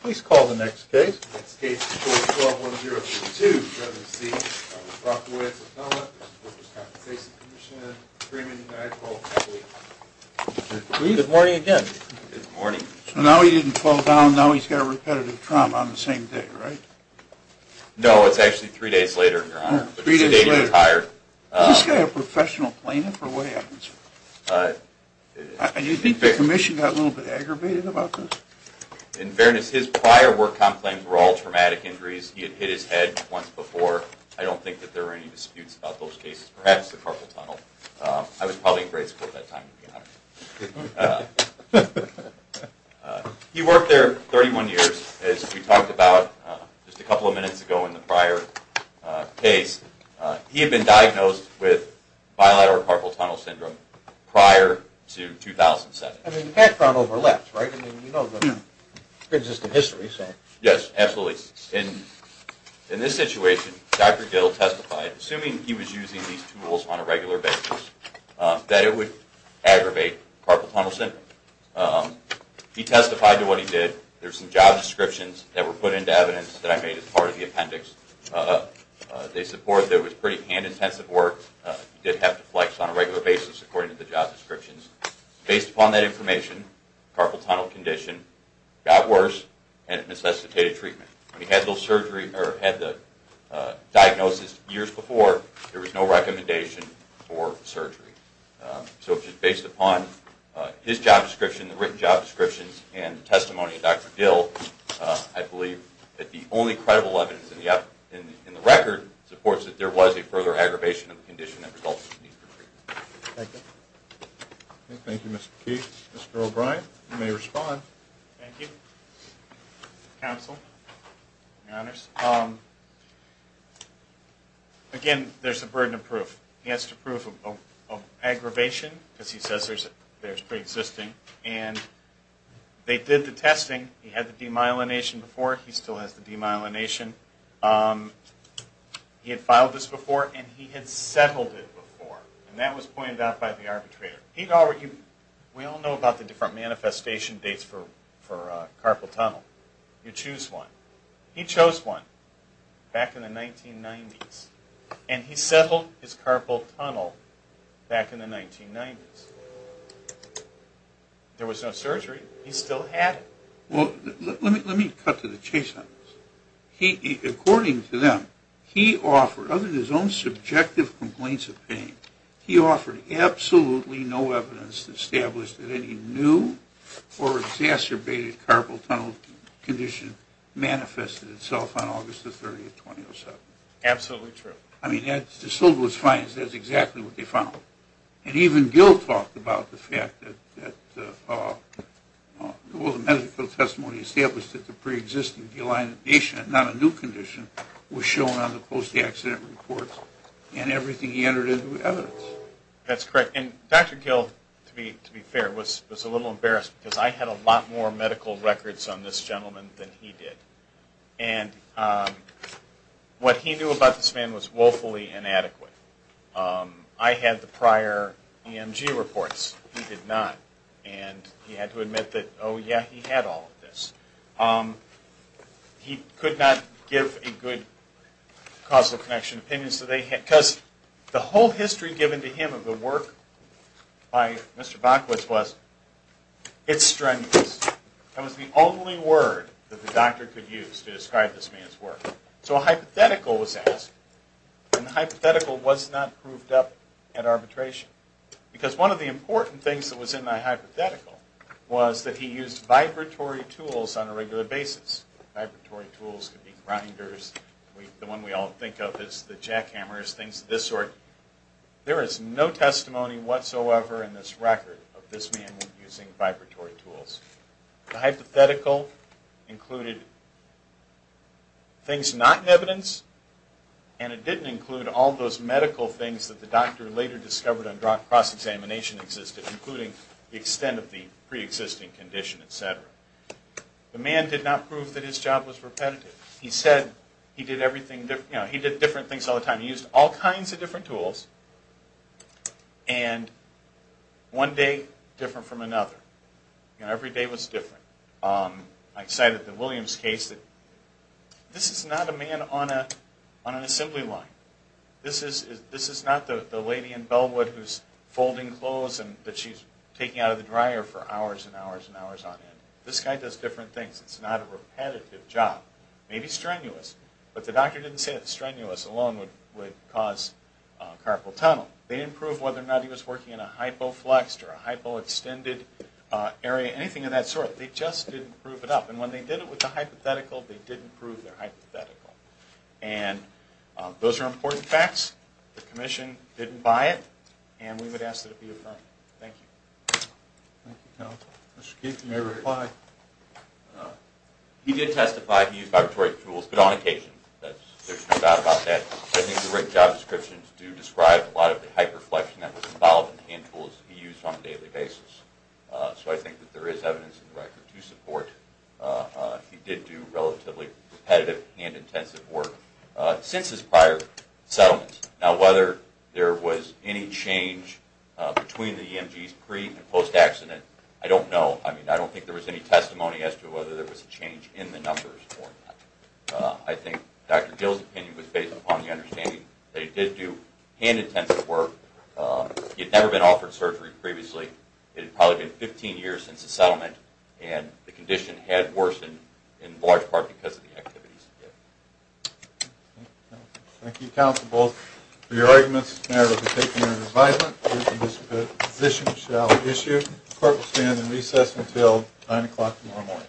Good morning again. Good morning. So now he didn't fall down, now he's got a repetitive trauma on the same day, right? No, it's actually three days later, Your Honor, but today he retired. Is this guy a professional plaintiff or what happens? Do you think the Commission got a little bit aggravated about this? In fairness, his prior work comp claims were all traumatic injuries. He had hit his head once before. I don't think that there were any disputes about those cases, perhaps the carpal tunnel. I was probably in grade school at that time, Your Honor. He worked there 31 years, as we talked about just a couple of minutes ago in the prior case. He had been diagnosed with bilateral carpal tunnel syndrome prior to 2007. I mean, the background overlaps, right? I mean, you know the consistent history. Yes, absolutely. In this situation, Dr. Gill testified, assuming he was using these tools on a regular basis, that it would aggravate carpal tunnel syndrome. He testified to what he did. There's some job descriptions that were put into evidence that I made as part of the appendix. They support that it was pretty hand-intensive work. He did have to flex on a regular basis according to the job descriptions. Based upon that information, carpal tunnel condition got worse and it necessitated treatment. When he had the diagnosis years before, there was no recommendation for surgery. So just based upon his job description, the written job descriptions, and the testimony of Dr. Gill, I believe that the only credible evidence in the record supports that there was a further aggravation of the condition that resulted in these treatments. Thank you. Thank you, Mr. Keith. Mr. O'Brien, you may respond. Thank you. Counsel, Your Honors, again, there's a burden of proof. He has to prove of aggravation because he says there's pre-existing, and they did the testing. He had the demyelination before. He still has the demyelination. He had filed this before, and he had settled it before, and that was pointed out by the arbitrator. We all know about the different manifestation dates for carpal tunnel. You choose one. He chose one back in the 1990s, and he settled his carpal tunnel back in the 1990s. There was no surgery. He still had it. Well, let me cut to the chase on this. According to them, he offered, other than his own subjective complaints of pain, he offered absolutely no evidence to establish that any new or exacerbated carpal tunnel condition manifested itself on August the 30th, 2007. Absolutely true. I mean, it's as simple as fines. That's exactly what they found. And even Gill talked about the fact that there was a medical testimony established that the pre-existing delineation, not a new condition, was shown on the post-accident reports, and everything he entered into was evidence. That's correct, and Dr. Gill, to be fair, was a little embarrassed because I had a lot more medical records on this gentleman than he did. And what he knew about this man was woefully inadequate. I had the prior EMG reports. He did not. And he had to admit that, oh, yeah, he had all of this. He could not give a good causal connection opinion. Because the whole history given to him of the work by Mr. Bockwitz was, it's strenuous. That was the only word that the doctor could use to describe this man's work. So a hypothetical was asked, and the hypothetical was not proved up at arbitration. Because one of the important things that was in that hypothetical was that he used vibratory tools on a regular basis. Vibratory tools could be grinders. The one we all think of is the jackhammers, things of this sort. There is no testimony whatsoever in this record of this man using vibratory tools. The hypothetical included things not in evidence, and it didn't include all those medical things that the doctor later discovered on cross-examination existed, including the extent of the preexisting condition, etc. The man did not prove that his job was repetitive. He said he did different things all the time. He used all kinds of different tools, and one day different from another. Every day was different. I cited the Williams case. This is not a man on an assembly line. This is not the lady in Bellwood who's folding clothes that she's taking out of the dryer for hours and hours and hours on end. This guy does different things. It's not a repetitive job. Maybe strenuous, but the doctor didn't say that strenuous alone would cause carpal tunnel. They didn't prove whether or not he was working in a hypo-flexed or a hypo-extended area, anything of that sort. They just didn't prove it up, and when they did it with the hypothetical, they didn't prove their hypothetical. Those are important facts. The Commission didn't buy it, and we would ask that it be affirmed. Thank you. Thank you, Counsel. Mr. Keith, you may reply. He did testify he used vibratory tools, but on occasion. There's no doubt about that. I think the rigged job descriptions do describe a lot of the hyper-flexion that was involved in the hand tools he used on a daily basis. So I think that there is evidence in the record to support he did do relatively repetitive and intensive work since his prior settlement. Now, whether there was any change between the EMGs pre- and post-accident, I don't know. I mean, I don't think there was any testimony as to whether there was a change in the numbers for that. I think Dr. Gill's opinion was based upon the understanding that he did do hand-intensive work. He had never been offered surgery previously. It had probably been 15 years since the settlement, and the condition had worsened in large part because of the activities he did. Thank you, Counsel, both, for your arguments. The narrative has been taken under advisement. This position shall be issued. The court will stand in recess until 9 o'clock tomorrow morning.